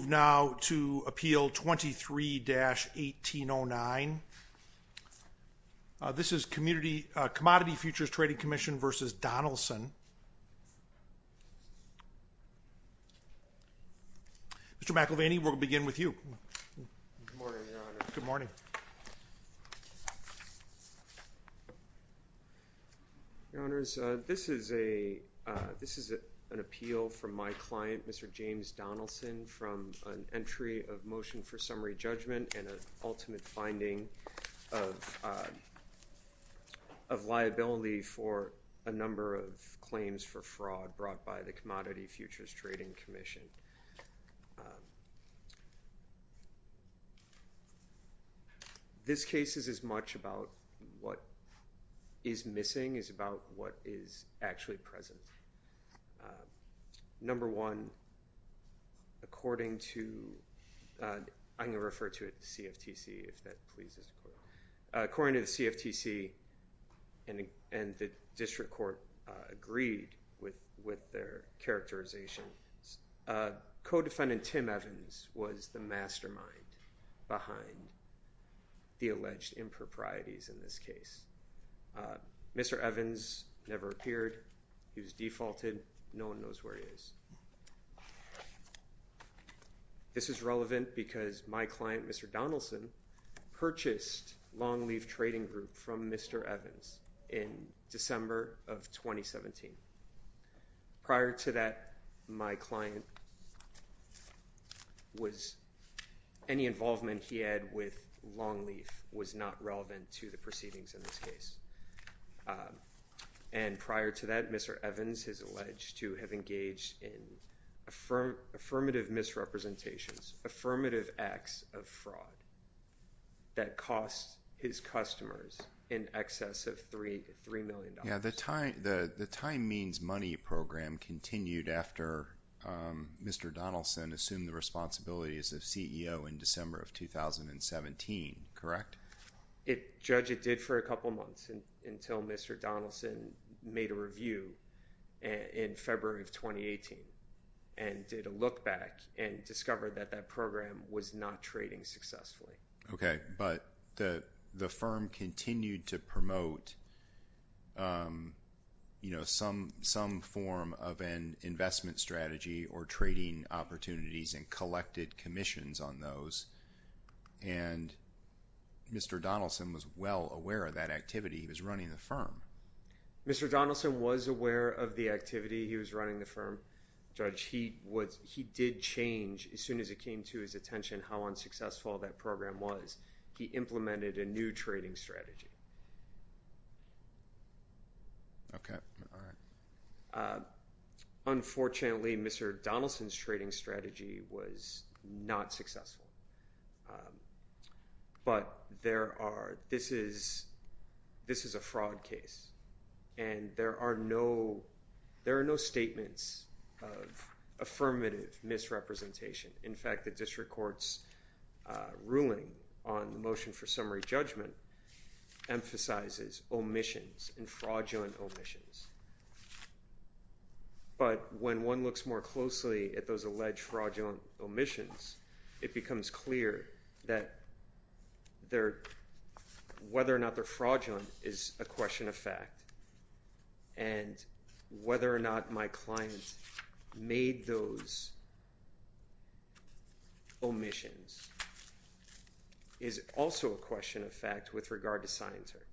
Moving now to Appeal 23-1809. This is Commodity Futures Trading Commission v. Donelson. Mr. McIlvaney, we'll begin with you. Good morning, Your Honors. Your Honors, this is an appeal from my client, Mr. James Donelson, from an entry of motion for summary judgment and an ultimate finding of liability for a number of claims for fraud brought by the Commodity Futures Trading Commission. This case is as much about what is missing as about what is actually present. Number one, according to, I'm going to refer to it as CFTC if that pleases, according to with their characterization, co-defendant Tim Evans was the mastermind behind the alleged improprieties in this case. Mr. Evans never appeared, he was defaulted, no one knows where he is. This is relevant because my client, Mr. Donelson, purchased Longleaf Trading Group from Mr. Evans in December of 2017. Prior to that, my client was, any involvement he had with Longleaf was not relevant to the proceedings in this case. And prior to that, Mr. Evans is alleged to have engaged in affirmative misrepresentations, affirmative acts of fraud that cost his customers in excess of $3 million. The Time Means Money Program continued after Mr. Donelson assumed the responsibilities of CEO in December of 2017, correct? Judge, it did for a couple of months until Mr. Donelson made a review in February of 2017. That program was not trading successfully. Okay. But the firm continued to promote some form of an investment strategy or trading opportunities and collected commissions on those. And Mr. Donelson was well aware of that activity, he was running the firm. Mr. Donelson was aware of the activity, he was running the firm. Judge, he did change, as soon as it came to his attention how unsuccessful that program was, he implemented a new trading strategy. Okay, all right. Unfortunately, Mr. Donelson's trading strategy was not successful. But there are, this is a fraud case. And there are no, there are no statements of affirmative misrepresentation. In fact, the district court's ruling on the motion for summary judgment emphasizes omissions and fraudulent omissions. But when one looks more closely at those alleged fraudulent omissions, it becomes clear that their, whether or not they're fraudulent is a question of fact. And whether or not my client made those omissions is also a question of fact with regard to Scienter.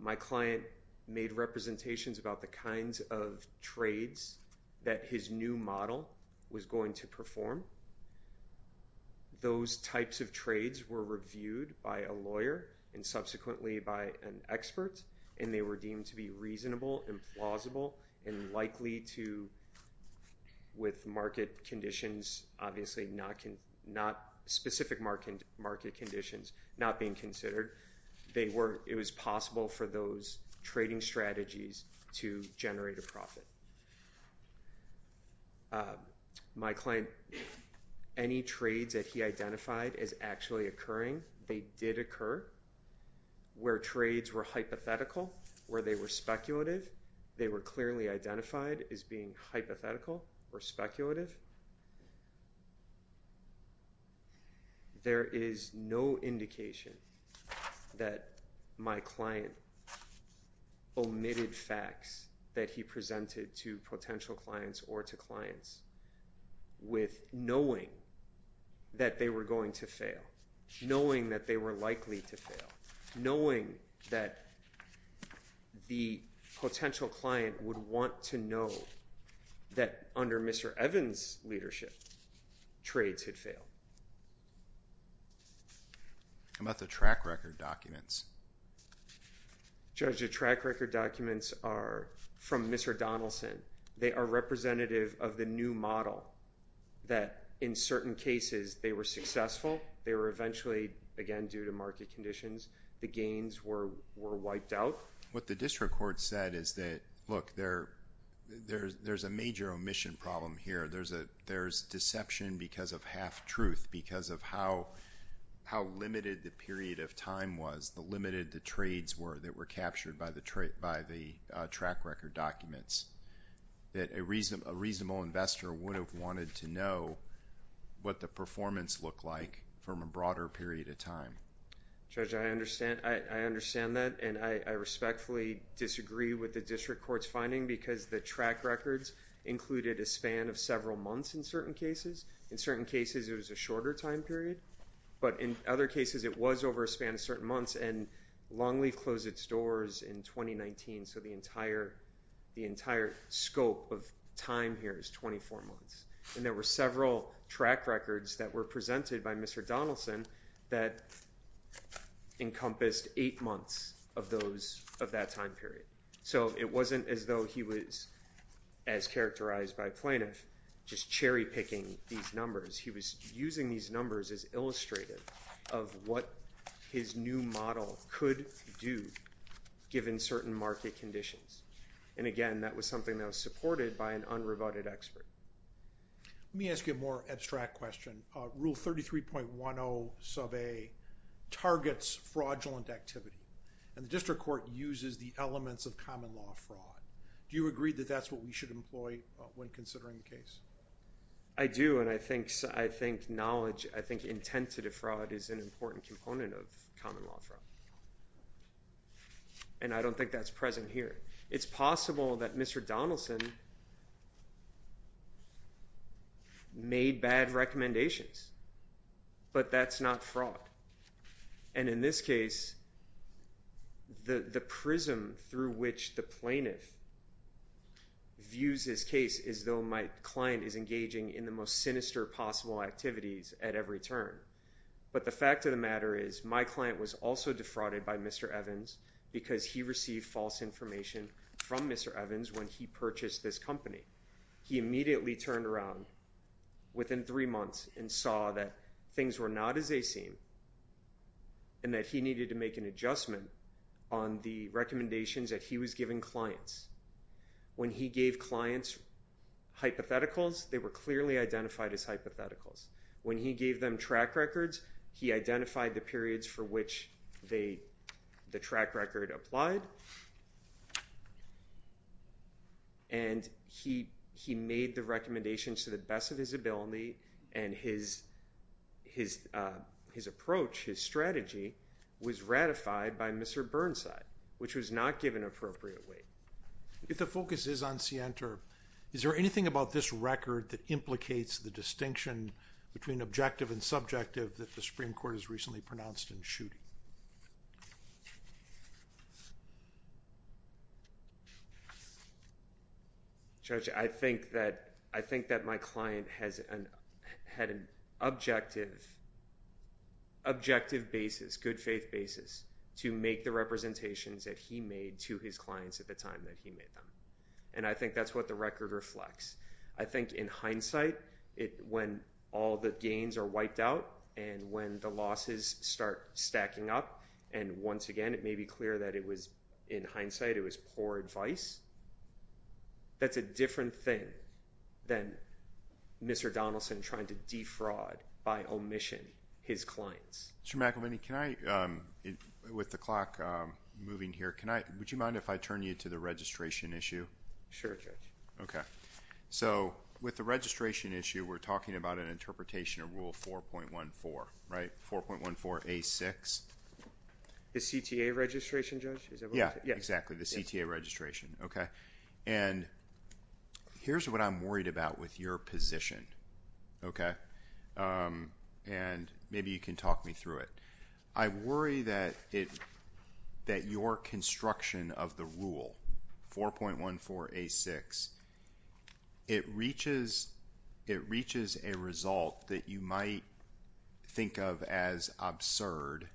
My client made representations about the kinds of trades that his new model was going to perform. Those types of trades were reviewed by a lawyer and subsequently by an expert, and they were deemed to be reasonable and plausible and likely to, with market conditions obviously not, specific market conditions not being considered, they were, it was possible for them to be fraudulent. My client, any trades that he identified as actually occurring, they did occur, where trades were hypothetical, where they were speculative, they were clearly identified as being hypothetical or speculative. There is no indication that my client omitted facts that he presented to potential clients or to clients with knowing that they were going to fail, knowing that they were likely to fail, knowing that the potential client would want to know that under Mr. Evans' leadership, trades had failed. How about the track record documents? Judge, the track record documents are from Mr. Donaldson. They are representative of the new model that in certain cases they were successful, they were eventually, again, due to market conditions, the gains were wiped out. What the district court said is that, look, there's a major omission problem here. There's deception because of half-truth, because of how limited the period of time was, the limited the trades were that were captured by the track record documents. A reasonable investor would have wanted to know what the performance looked like from a broader period of time. Judge, I understand that, and I respectfully disagree with the district court's finding because the track records included a span of several months in certain cases. In certain cases, it was a shorter time period, but in other cases, it was over a span of certain months, and Longleaf closed its doors in 2019, so the entire scope of time here is 24 months, and there were several track records that were presented by Mr. Donaldson that encompassed eight months of that time period. So it wasn't as though he was, as characterized by plaintiff, just cherry-picking these numbers. He was using these numbers as illustrative of what his new model could do given certain market conditions, and again, that was something that was supported by an unrebutted expert. Let me ask you a more abstract question. Rule 33.10 sub A targets fraudulent activity, and the district court uses the elements of common law fraud. Do you agree that that's what we should employ when considering the case? I do, and I think knowledge, I think intent to defraud is an important component of common law fraud, and I don't think that's present here. It's possible that Mr. Donaldson made bad recommendations, but that's not fraud, and in this case, the prism through which the plaintiff views this case is though my client is engaging in the most sinister possible activities at every turn, but the fact of the matter is my client was also defrauded by Mr. Evans because he received false information from Mr. Evans when he purchased this company. He immediately turned around within three months and saw that things were not as they seem and that he needed to make an adjustment on the recommendations that he was giving clients. When he gave clients hypotheticals, they were clearly identified as hypotheticals. When he gave them track records, he identified the periods for which the track record applied, and he made the recommendations to the best of his ability, and his approach, his strategy was ratified by Mr. Burnside, which was not given appropriate weight. If the focus is on Sienta, is there anything about this record that implicates the distinction between objective and subjective that the Supreme Court has recently pronounced in the shooting? Judge, I think that my client had an objective basis, good faith basis, to make the representations that he made to his clients at the time that he made them, and I think that's what the record reflects. I think in hindsight, when all the gains are wiped out and when the losses start stacking up, and once again, it may be clear that it was in hindsight, it was poor advice, that's a different thing than Mr. Donaldson trying to defraud by omission his clients. Mr. McElmany, with the clock moving here, would you mind if I turn you to the registration issue? Sure, Judge. Okay. So, with the registration issue, we're talking about an interpretation of Rule 4.14, right? 4.14a6? The CTA registration, Judge? Yeah, exactly, the CTA registration, okay? And here's what I'm worried about with your position, okay? And maybe you can talk me through it. I worry that your construction of the rule, 4.14a6, it reaches a result that you might think of as absurd,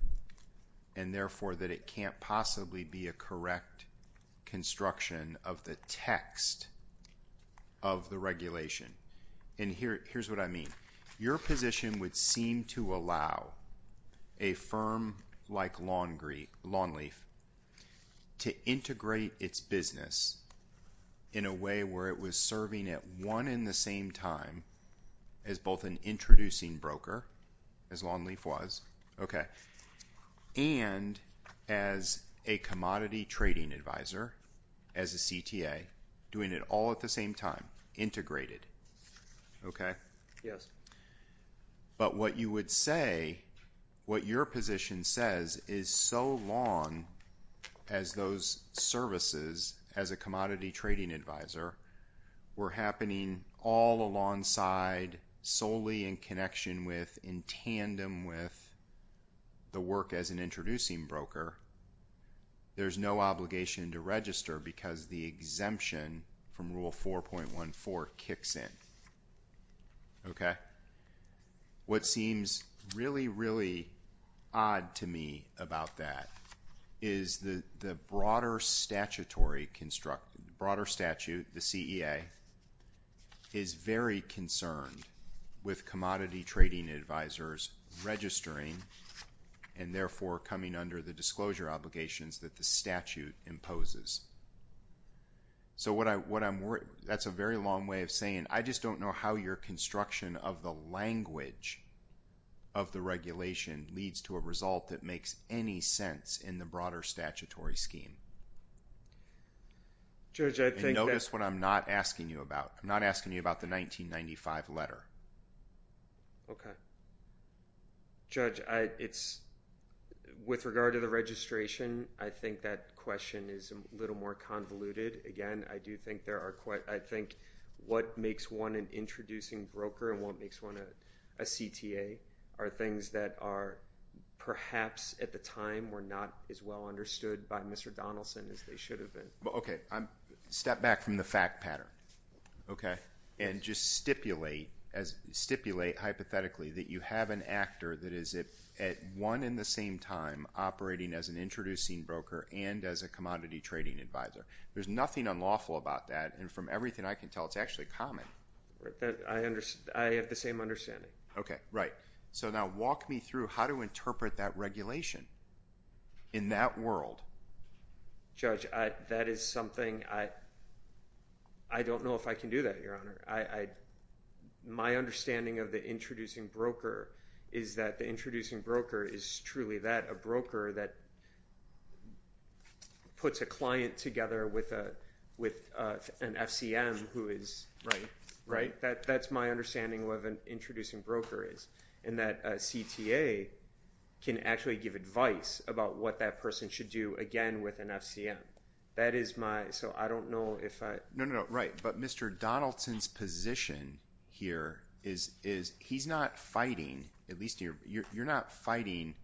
and therefore that it can't possibly be a correct construction of the text of the regulation. And here's what I mean. Your position would seem to allow a firm like Lawnleaf to integrate its business in a way where it was serving at one and the same time as both an introducing broker, as Lawnleaf was, okay, and as a commodity trading advisor, as a CTA, doing it all at the same time, integrated, okay? Yes. But what you would say, what your position says is so long as those services as a commodity trading advisor were happening all alongside solely in connection with, in tandem with the work as an introducing broker, there's no obligation to register because the exemption from rule 4.14 kicks in, okay? What seems really, really odd to me about that is the broader statutory construct, the broader statute, the CEA, is very concerned with commodity trading advisors registering and therefore coming under the disclosure obligations that the statute imposes. So, what I'm, that's a very long way of saying I just don't know how your construction of the language of the regulation leads to a result that makes any sense in the broader statutory scheme. Judge, I think that And notice what I'm not asking you about. I'm not asking you about the 1995 letter. Okay. Judge, I, it's, with regard to the registration, I think that question is a little more convoluted. Again, I do think there are quite, I think what makes one an introducing broker and what makes one a CTA are things that are perhaps at the time were not as well understood by Mr. Donaldson as they should have been. Okay. I'm, step back from the fact pattern. Okay. And just stipulate as, stipulate hypothetically that you have an actor that is at one and the same time operating as an introducing broker and as a commodity trading advisor. There's nothing unlawful about that and from everything I can tell it's actually common. I understand, I have the same understanding. Okay, right. So, now walk me through how to interpret that regulation in that world. Judge, I, that is something I, I don't know if I can do that, Your Honor. I, I, my understanding of the introducing broker is that the introducing broker is truly that, a broker that puts a client together with a, with an FCM who is. Right. Right. That, that's my understanding of what an introducing broker is and that a CTA can actually give advice about what that person should do again with an FCM. That is my, so I don't know if I. No, no, no, right. But Mr. Donaldson's position here is, is he's not fighting, at least you're, you're, you're not fighting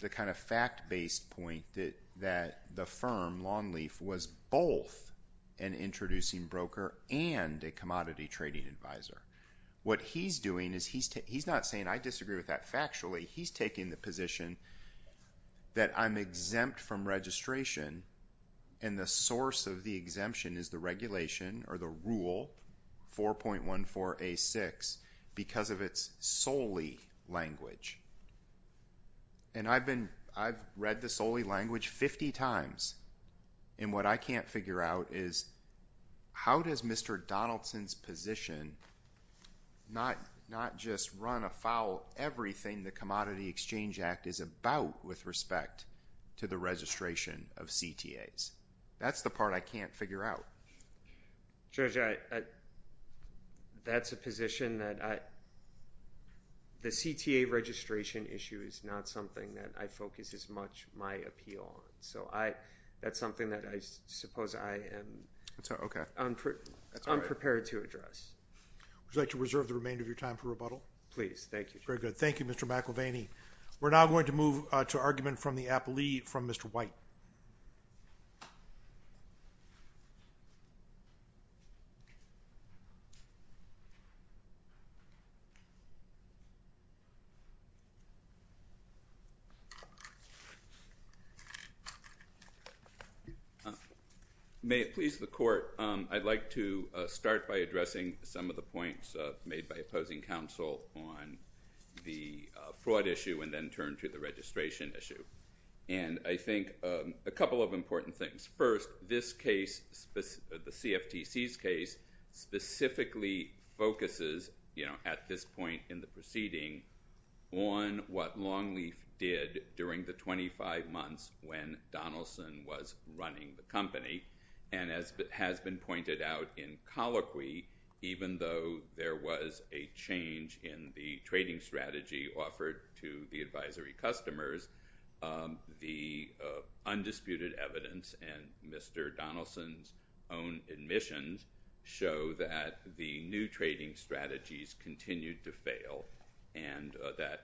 the kind of fact based point that, that the firm, Longleaf, was both an introducing broker and a commodity trading advisor. What he's doing is he's, he's not saying I disagree with that factually. He's taking the position that I'm exempt from registration and the source of the exemption is the regulation or the rule 4.14A6 because of its solely language. And I've been, I've read the solely language 50 times and what I can't figure out is how does Mr. Donaldson's position not, not just run afoul everything the Commodity Exchange Act is about with respect to the registration of CTAs? That's the part I can't figure out. Judge, I, I, that's a position that I, the CTA registration issue is not something that I focus as much my appeal on. So, I, that's something that I suppose I am. I'm sorry. Okay. I'm, I'm prepared to address. Would you like to reserve the remainder of your time for rebuttal? Please. Thank you. Very good. Thank you, Mr. McElvaney. May it please the Court, I'd like to start by addressing some of the points made by opposing counsel on the fraud issue and then turn to the registration issue. And I think a couple of important things. First, this case, the CFTC's case specifically focuses, you know, at this point in the proceeding on what Longleaf did during the 25 months when Donaldson was running the company. And as has been pointed out in colloquy, even though there was a change in the trading strategy offered to the advisory customers, the undisputed evidence and Mr. Donaldson's own admissions show that the new trading strategies continued to fail and that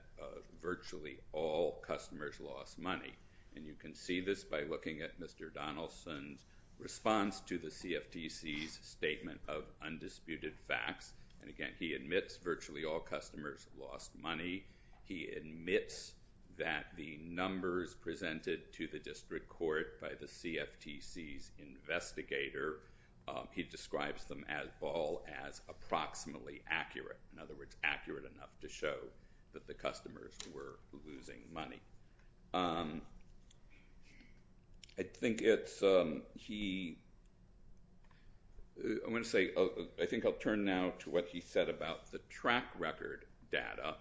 virtually all customers lost money. And you can see this by looking at Mr. Donaldson's response to the CFTC's statement of undisputed facts. And again, he admits virtually all customers lost money. He admits that the numbers presented to the district court by the CFTC's investigator, he describes them all as approximately accurate. In other words, accurate enough to show that the customers were losing money. I think I'll turn now to what he said about the track record data.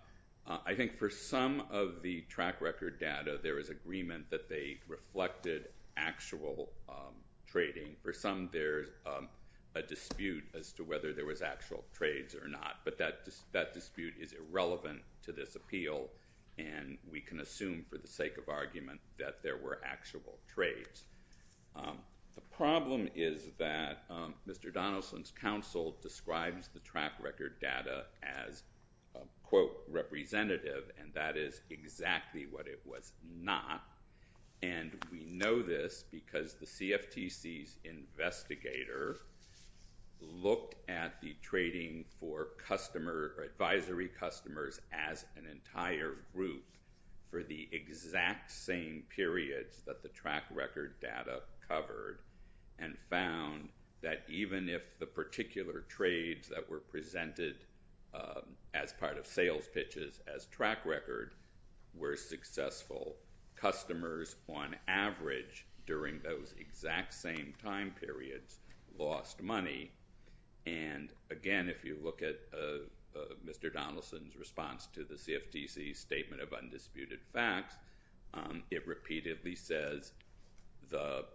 I think for some of the track record data, there was agreement that they reflected actual trading. For some, there's a dispute as to whether there was actual trades or not. But that dispute is irrelevant to this appeal. And we can assume for the sake of argument that there were actual trades. The problem is that Mr. Donaldson's counsel describes the track record data as, quote, representative. And that is exactly what it was not. And we know this because the CFTC's investigator looked at the trading for advisory customers as an entire group for the exact same periods that the track record data covered and found that even if the particular trades that were presented as part of sales pitches as track record were successful, customers on average during those exact same time periods lost money. And again, if you look at Mr. Donaldson's response to the CFTC's statement of undisputed facts, it repeatedly says the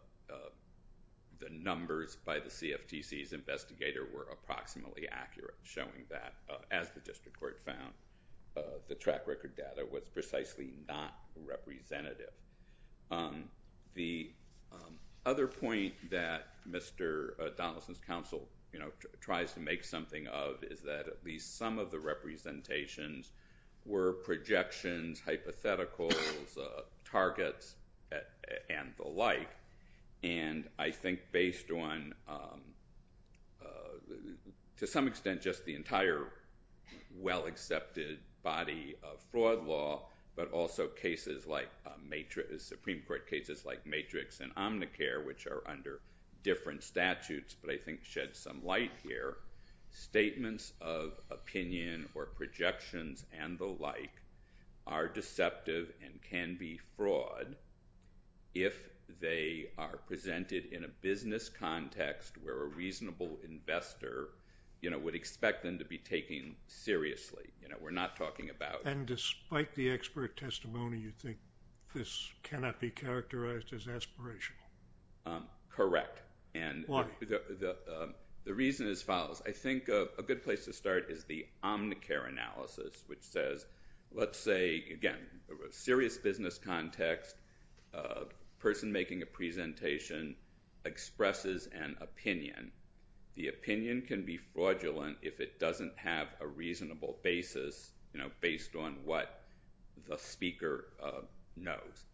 numbers by the CFTC's investigator were approximately accurate, showing that, as the district court found, the track record data was precisely not representative. The other point that Mr. Donaldson's counsel tries to make something of is that at least some of the representations were projections, hypotheticals, targets, and the like. And I think based on, to some extent, just the entire well-accepted body of fraud law, but also Supreme Court cases like Matrix and Omnicare, which are under different statutes but I think shed some light here, statements of opinion or projections and the like are deceptive and can be fraud if they are presented in a business context where a reasonable investor would expect them to be taken seriously. We're not talking about— And despite the expert testimony, you think this cannot be characterized as aspirational? Correct. Why? The reason is as follows. I think a good place to start is the Omnicare analysis, which says, let's say, again, a serious business context, a person making a presentation expresses an opinion. The opinion can be fraudulent if it doesn't have a reasonable basis based on what the speaker knows.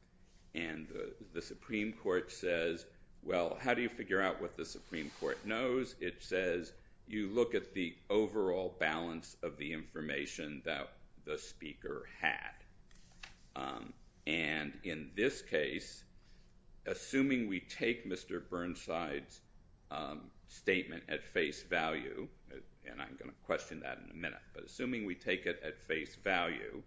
And the Supreme Court says, well, how do you figure out what the Supreme Court knows? It says, you look at the overall balance of the information that the speaker had. And in this case, assuming we take Mr. Burnside's statement at face value, and I'm going to question that in a minute, but assuming we take it at face value,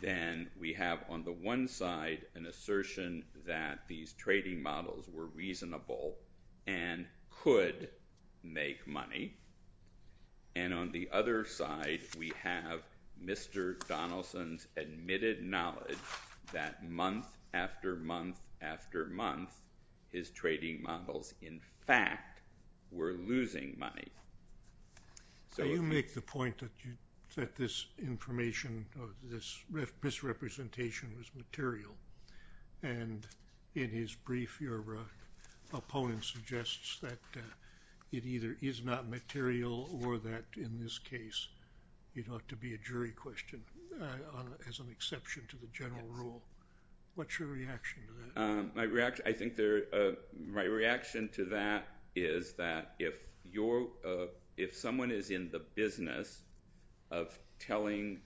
then we have on the one side an assertion that these trading models were reasonable and could make money. And on the other side, we have Mr. Donaldson's admitted knowledge that month after month after month, his trading models, in fact, were losing money. So you make the point that this information, this misrepresentation was material. And in his brief, your opponent suggests that it either is not material or that, in this case, it ought to be a jury question as an exception to the general rule. What's your reaction to that? My reaction to that is that if someone is in the business of telling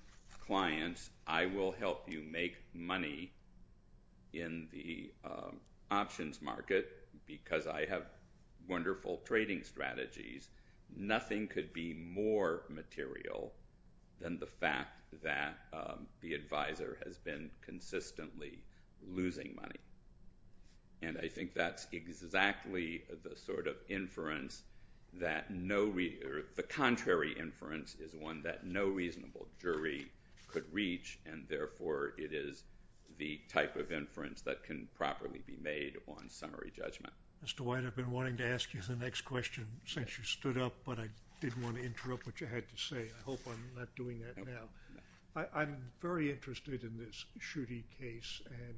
clients, I will help you make money in the options market because I have wonderful trading strategies, nothing could be more material than the fact that the advisor has been consistently losing money. And I think that's exactly the sort of inference that no—the contrary inference is one that no reasonable jury could reach, and therefore it is the type of inference that can properly be made on summary judgment. Mr. White, I've been wanting to ask you the next question since you stood up, but I didn't want to interrupt what you had to say. I hope I'm not doing that now. I'm very interested in this Schuette case and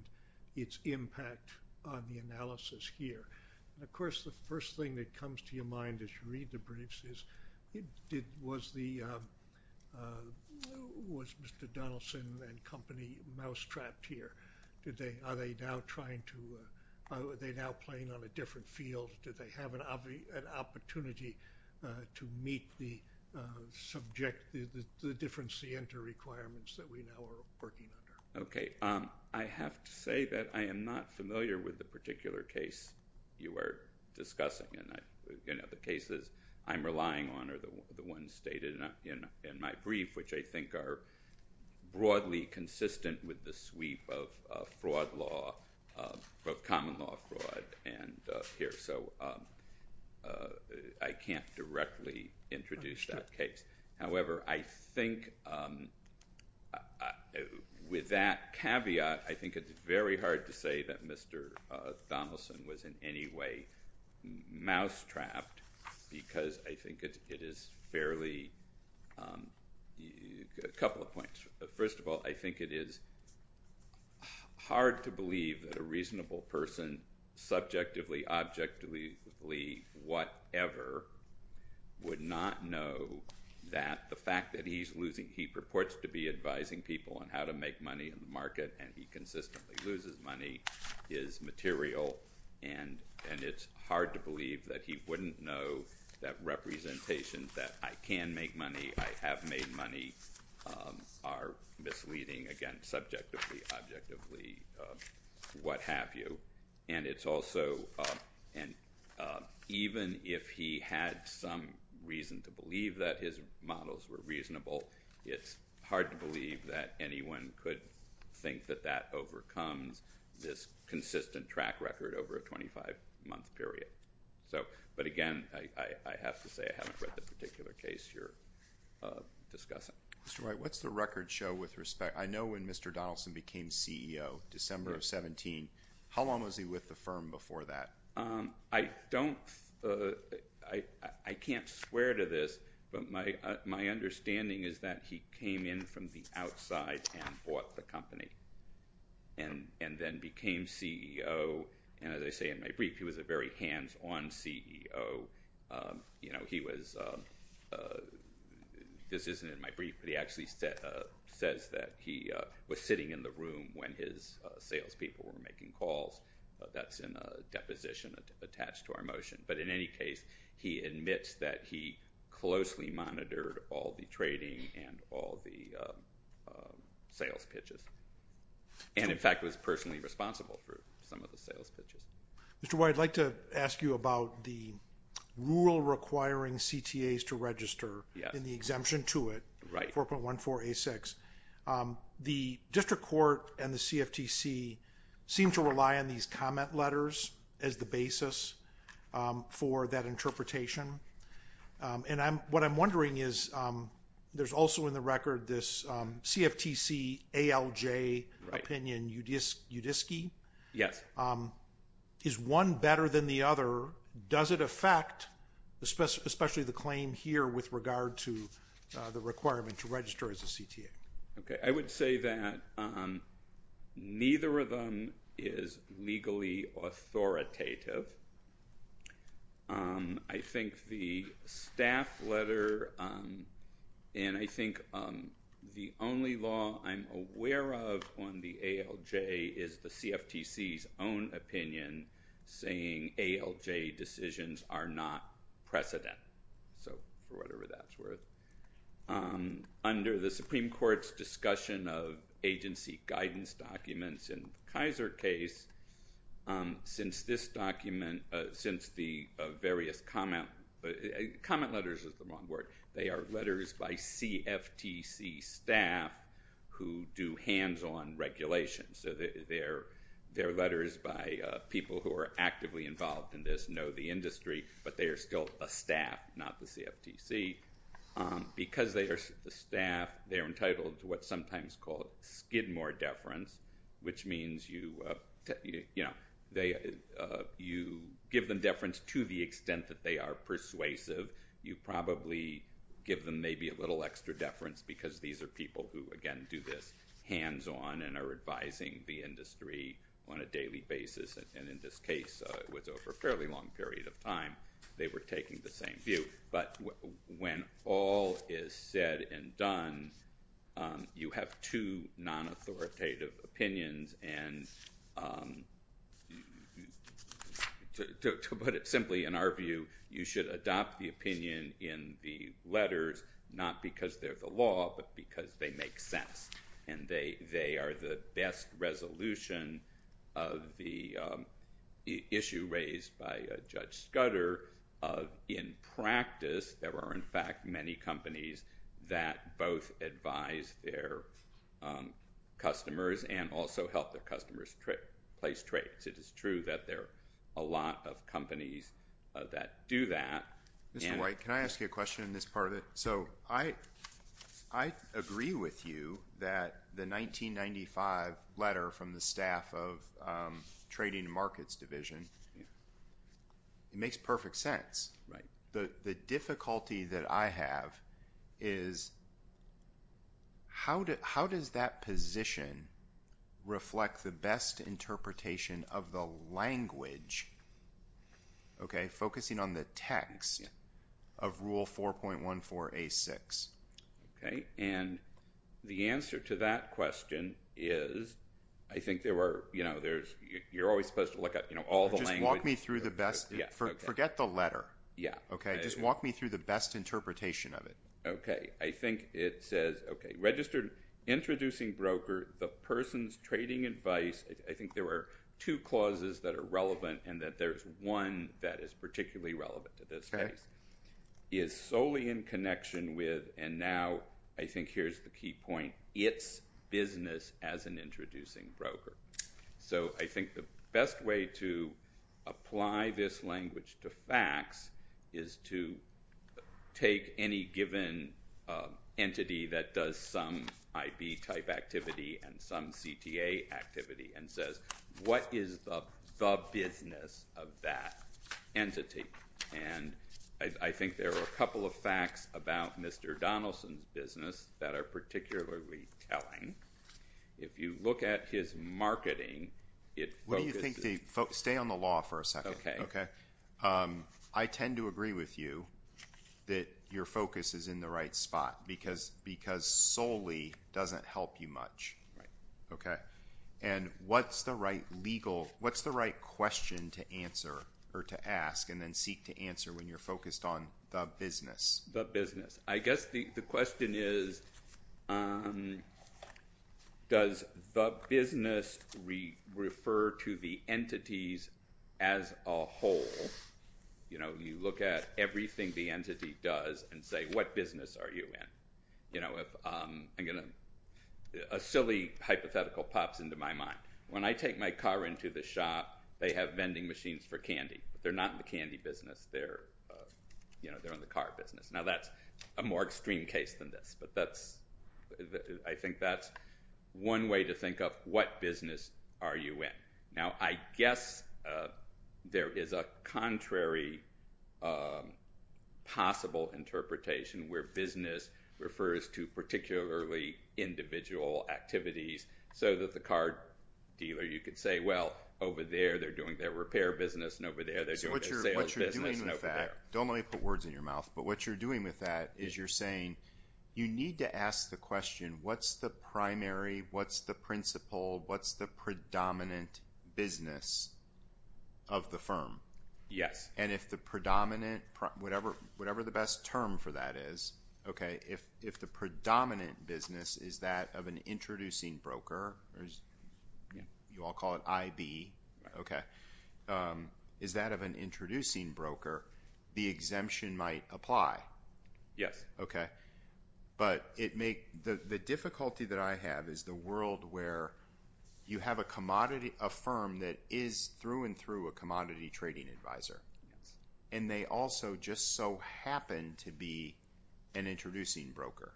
its impact on the analysis here. Of course, the first thing that comes to your mind as you read the briefs is, was Mr. Donaldson and company mousetrapped here? Are they now trying to—are they now playing on a different field? Do they have an opportunity to meet the subject—the different scienter requirements that we now are working under? Okay. I have to say that I am not familiar with the particular case you are discussing. The cases I'm relying on are the ones stated in my brief, which I think are broadly consistent with the sweep of fraud law, of common law fraud, and here. So I can't directly introduce that case. However, I think with that caveat, I think it's very hard to say that Mr. Donaldson was in any way mousetrapped because I think it is fairly—a couple of points. First of all, I think it is hard to believe that a reasonable person, subjectively, objectively, whatever, would not know that the fact that he's losing—he purports to be advising people on how to make money in the market, and he consistently loses money, is material, and it's hard to believe that he wouldn't know that representation, that I can make money, I have made money, are misleading, again, subjectively, objectively, what have you. And it's also—and even if he had some reason to believe that his models were reasonable, it's hard to believe that anyone could think that that overcomes this consistent track record over a 25-month period. But again, I have to say I haven't read the particular case you're discussing. Mr. Wright, what's the record show with respect—I know when Mr. Donaldson became CEO, December of 17, how long was he with the firm before that? I don't—I can't swear to this, but my understanding is that he came in from the outside and bought the company and then became CEO. And as I say in my brief, he was a very hands-on CEO. You know, he was—this isn't in my brief, but he actually says that he was sitting in the room when his salespeople were making calls. That's in a deposition attached to our motion. But in any case, he admits that he closely monitored all the trading and all the sales pitches and, in fact, was personally responsible for some of the sales pitches. Mr. Wright, I'd like to ask you about the rule requiring CTAs to register and the exemption to it, 4.14a6. The district court and the CFTC seem to rely on these comment letters as the basis for that interpretation. And what I'm wondering is there's also in the record this CFTC ALJ opinion, UDISC. Yes. Is one better than the other? Does it affect, especially the claim here with regard to the requirement to register as a CTA? Okay. I would say that neither of them is legally authoritative. I think the staff letter and I think the only law I'm aware of on the ALJ is the CFTC's own opinion saying ALJ decisions are not precedent, so for whatever that's worth. Under the Supreme Court's discussion of agency guidance documents in the Kaiser case, since this document, since the various comment letters is the wrong word. They are letters by CFTC staff who do hands-on regulation. So they're letters by people who are actively involved in this, know the industry, but they are still a staff, not the CFTC. Because they are staff, they're entitled to what's sometimes called skidmore deference, which means you give them deference to the extent that they are persuasive. You probably give them maybe a little extra deference because these are people who, again, do this hands-on and are advising the industry on a daily basis. And in this case, it was over a fairly long period of time. They were taking the same view. But when all is said and done, you have two non-authoritative opinions. And to put it simply, in our view, you should adopt the opinion in the letters, not because they're the law, but because they make sense. And they are the best resolution of the issue raised by Judge Scudder. In practice, there are, in fact, many companies that both advise their customers and also help their customers place trades. It is true that there are a lot of companies that do that. Mr. White, can I ask you a question on this part of it? So I agree with you that the 1995 letter from the Staff of Trading and Markets Division makes perfect sense. The difficulty that I have is how does that position reflect the best interpretation of the language? Okay, focusing on the text of Rule 4.14a.6. Okay, and the answer to that question is, I think there were, you know, you're always supposed to look at all the language. Just walk me through the best. Forget the letter. Yeah. Okay, just walk me through the best interpretation of it. Okay, I think it says, okay, registered introducing broker, the person's trading advice. I think there were two clauses that are relevant and that there's one that is particularly relevant to this case. Okay. It is solely in connection with, and now I think here's the key point, its business as an introducing broker. So I think the best way to apply this language to facts is to take any given entity that does some IB type activity and some CTA activity and says, what is the business of that entity? And I think there are a couple of facts about Mr. Donaldson's business that are particularly telling. If you look at his marketing, it focuses. Stay on the law for a second. Okay. I tend to agree with you that your focus is in the right spot because solely doesn't help you much. Right. Okay. And what's the right question to answer or to ask and then seek to answer when you're focused on the business? The business. I guess the question is, does the business refer to the entities as a whole? You know, you look at everything the entity does and say, what business are you in? You know, a silly hypothetical pops into my mind. When I take my car into the shop, they have vending machines for candy. They're not in the candy business. They're in the car business. Now, that's a more extreme case than this, but I think that's one way to think of what business are you in. Now, I guess there is a contrary possible interpretation where business refers to particularly individual activities so that the car dealer, you could say, well, over there they're doing their repair business and over there they're doing their sales business. Don't let me put words in your mouth, but what you're doing with that is you're saying you need to ask the question, what's the primary, what's the principle, what's the predominant business of the firm? Yes. And if the predominant, whatever the best term for that is, okay, if the predominant business is that of an introducing broker, you all call it IB, okay, is that of an introducing broker, the exemption might apply. Yes. Okay. But the difficulty that I have is the world where you have a firm that is through and through a commodity trading advisor, and they also just so happen to be an introducing broker.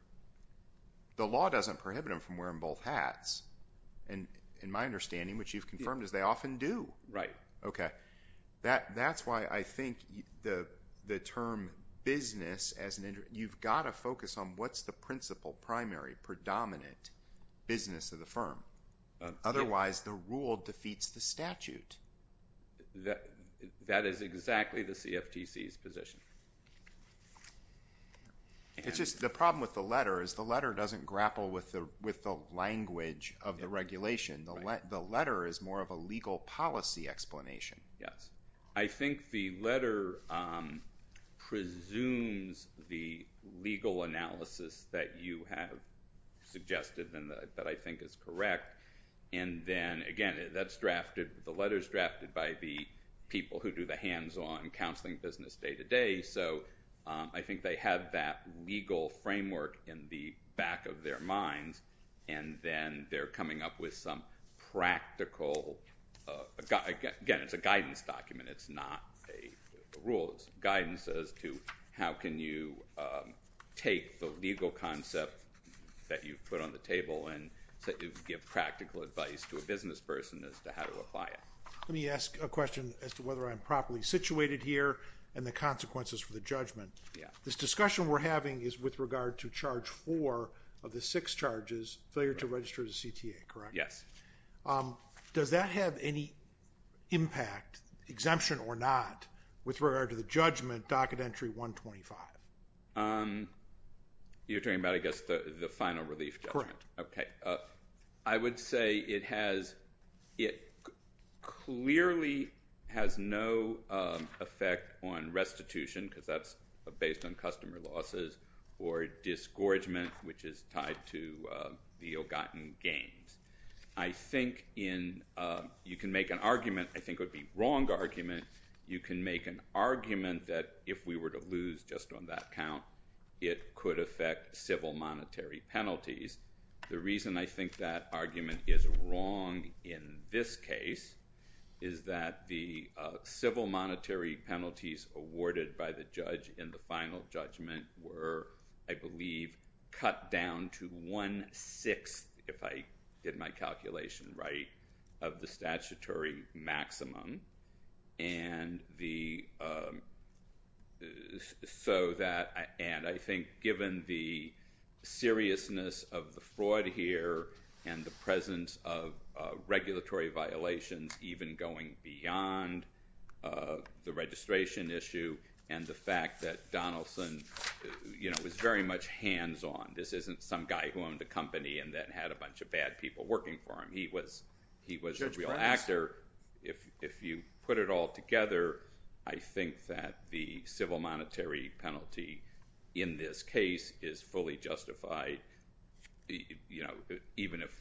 The law doesn't prohibit them from wearing both hats, in my understanding, which you've confirmed is they often do. Right. Okay. That's why I think the term business, you've got to focus on what's the principle, primary, predominant business of the firm. Otherwise, the rule defeats the statute. That is exactly the CFTC's position. It's just the problem with the letter is the letter doesn't grapple with the language of the regulation. The letter is more of a legal policy explanation. Yes. I think the letter presumes the legal analysis that you have suggested and that I think is correct. And then, again, that's drafted, the letter's drafted by the people who do the hands-on counseling business day-to-day, so I think they have that legal framework in the back of their minds, and then they're coming up with some practical, again, it's a guidance document, it's not a rule. It's guidance as to how can you take the legal concept that you've put on the table and give practical advice to a business person as to how to apply it. Let me ask a question as to whether I'm properly situated here and the consequences for the judgment. This discussion we're having is with regard to charge four of the six charges, failure to register as a CTA, correct? Yes. Does that have any impact, exemption or not, with regard to the judgment, docket entry 125? You're talking about, I guess, the final relief judgment? Correct. Okay. I would say it clearly has no effect on restitution because that's based on customer losses or disgorgement, which is tied to the Ogatan gains. I think you can make an argument, I think it would be a wrong argument, you can make an argument that if we were to lose just on that count, it could affect civil monetary penalties. The reason I think that argument is wrong in this case is that the civil monetary penalties awarded by the judge in the final judgment were, I believe, cut down to one-sixth, if I did my calculation right, of the statutory maximum. And I think given the seriousness of the fraud here and the presence of regulatory violations even going beyond the registration issue and the fact that Donaldson was very much hands-on. This isn't some guy who owned a company and then had a bunch of bad people working for him. He was a real actor. If you put it all together, I think that the civil monetary penalty in this case is fully justified, even if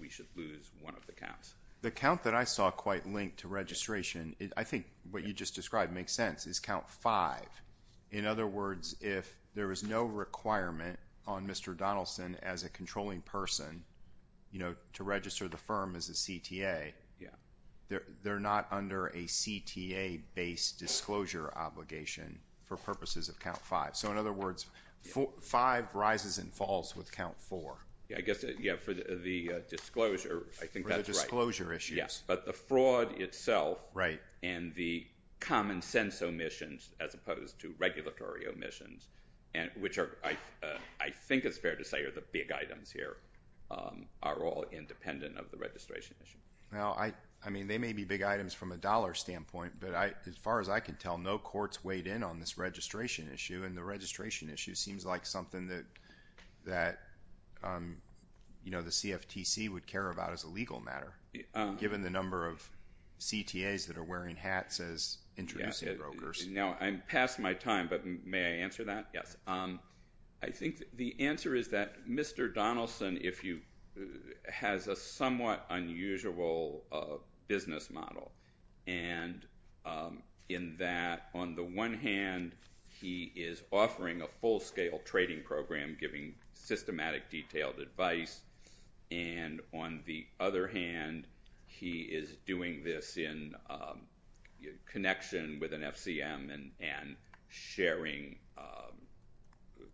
we should lose one of the counts. The count that I saw quite linked to registration, I think what you just described makes sense, is count five. In other words, if there was no requirement on Mr. Donaldson as a controlling person to register the firm as a CTA, they're not under a CTA-based disclosure obligation for purposes of count five. So in other words, five rises and falls with count four. I guess for the disclosure, I think that's right. For the disclosure issues. Yes, but the fraud itself and the common-sense omissions as opposed to regulatory omissions, which I think it's fair to say are the big items here, are all independent of the registration issue. They may be big items from a dollar standpoint, but as far as I can tell, no court's weighed in on this registration issue, and the registration issue seems like something that the CFTC would care about as a legal matter, given the number of CTAs that are wearing hats as introducing brokers. Now, I'm past my time, but may I answer that? Yes. I think the answer is that Mr. Donaldson has a somewhat unusual business model, and in that on the one hand, he is offering a full-scale trading program giving systematic detailed advice, and on the other hand, he is doing this in connection with an FCM and sharing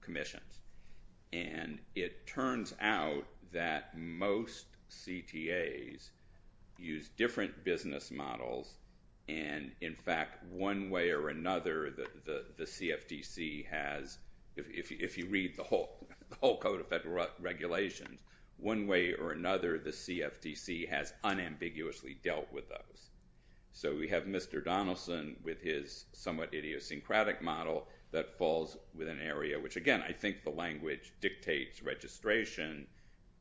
commissions. And it turns out that most CTAs use different business models, and in fact, one way or another, the CFTC has, if you read the whole Code of Federal Regulations, one way or another, the CFTC has unambiguously dealt with those. So we have Mr. Donaldson with his somewhat idiosyncratic model that falls within an area, which again, I think the language dictates registration,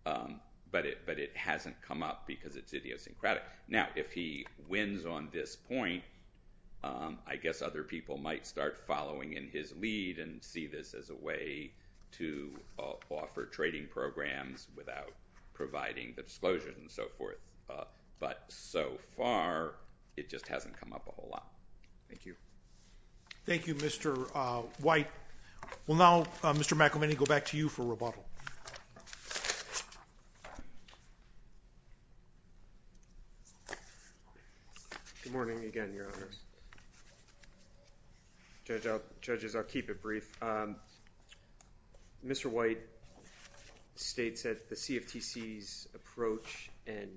but it hasn't come up because it's idiosyncratic. Now, if he wins on this point, I guess other people might start following in his lead and see this as a way to offer trading programs without providing the disclosures and so forth. But so far, it just hasn't come up a whole lot. Thank you. Thank you, Mr. White. Well, now, Mr. McElmany, I'll go back to you for rebuttal. Good morning again, Your Honors. Judges, I'll keep it brief. Mr. White states that the CFTC's approach and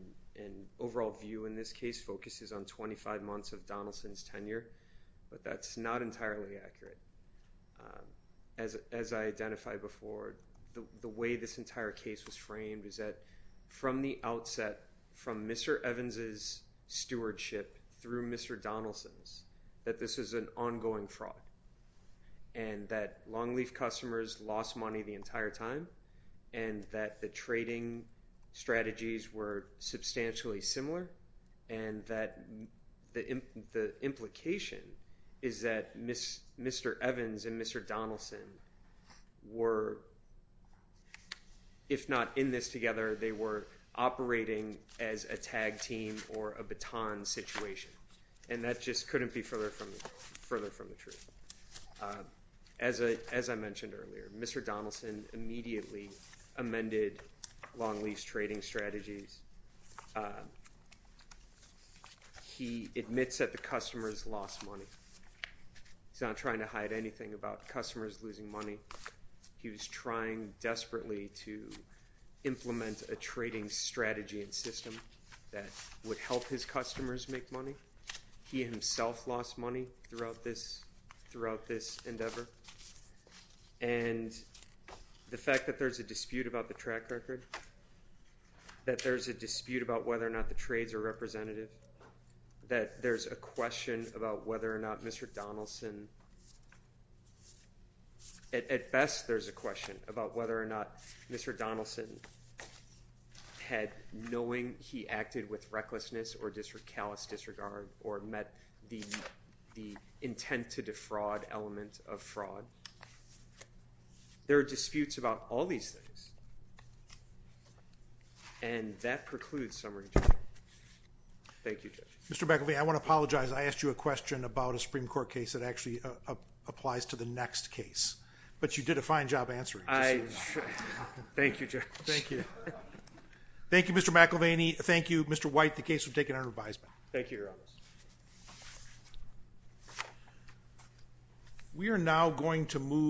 overall view in this case focuses on 25 months of Donaldson's tenure, but that's not entirely accurate. As I identified before, the way this entire case was framed is that from the outset, from Mr. Evans's stewardship through Mr. Donaldson's, that this is an ongoing fraud and that Longleaf customers lost money the entire time and that the trading strategies were substantially similar and that the implication is that Mr. Evans and Mr. Donaldson were, if not in this together, they were operating as a tag team or a baton situation. And that just couldn't be further from the truth. As I mentioned earlier, Mr. Donaldson immediately amended Longleaf's trading strategies. He admits that the customers lost money. He's not trying to hide anything about customers losing money. He was trying desperately to implement a trading strategy and system that would help his customers make money. He himself lost money throughout this endeavor. And the fact that there's a dispute about the track record, that there's a dispute about whether or not the trades are representative, that there's a question about whether or not Mr. Donaldson, at best there's a question about whether or not Mr. Donaldson had, knowing he acted with recklessness or callous disregard or met the intent to defraud element of fraud. There are disputes about all these things. And that precludes summary. Thank you, Judge. Mr. McElveen, I want to apologize. I asked you a question about a Supreme Court case that actually applies to the next case. But you did a fine job answering. Thank you, Judge. Thank you. Thank you, Mr. McElveen. Thank you, Mr. White. The case was taken under revision. Thank you, Your Honor. We are now going to move.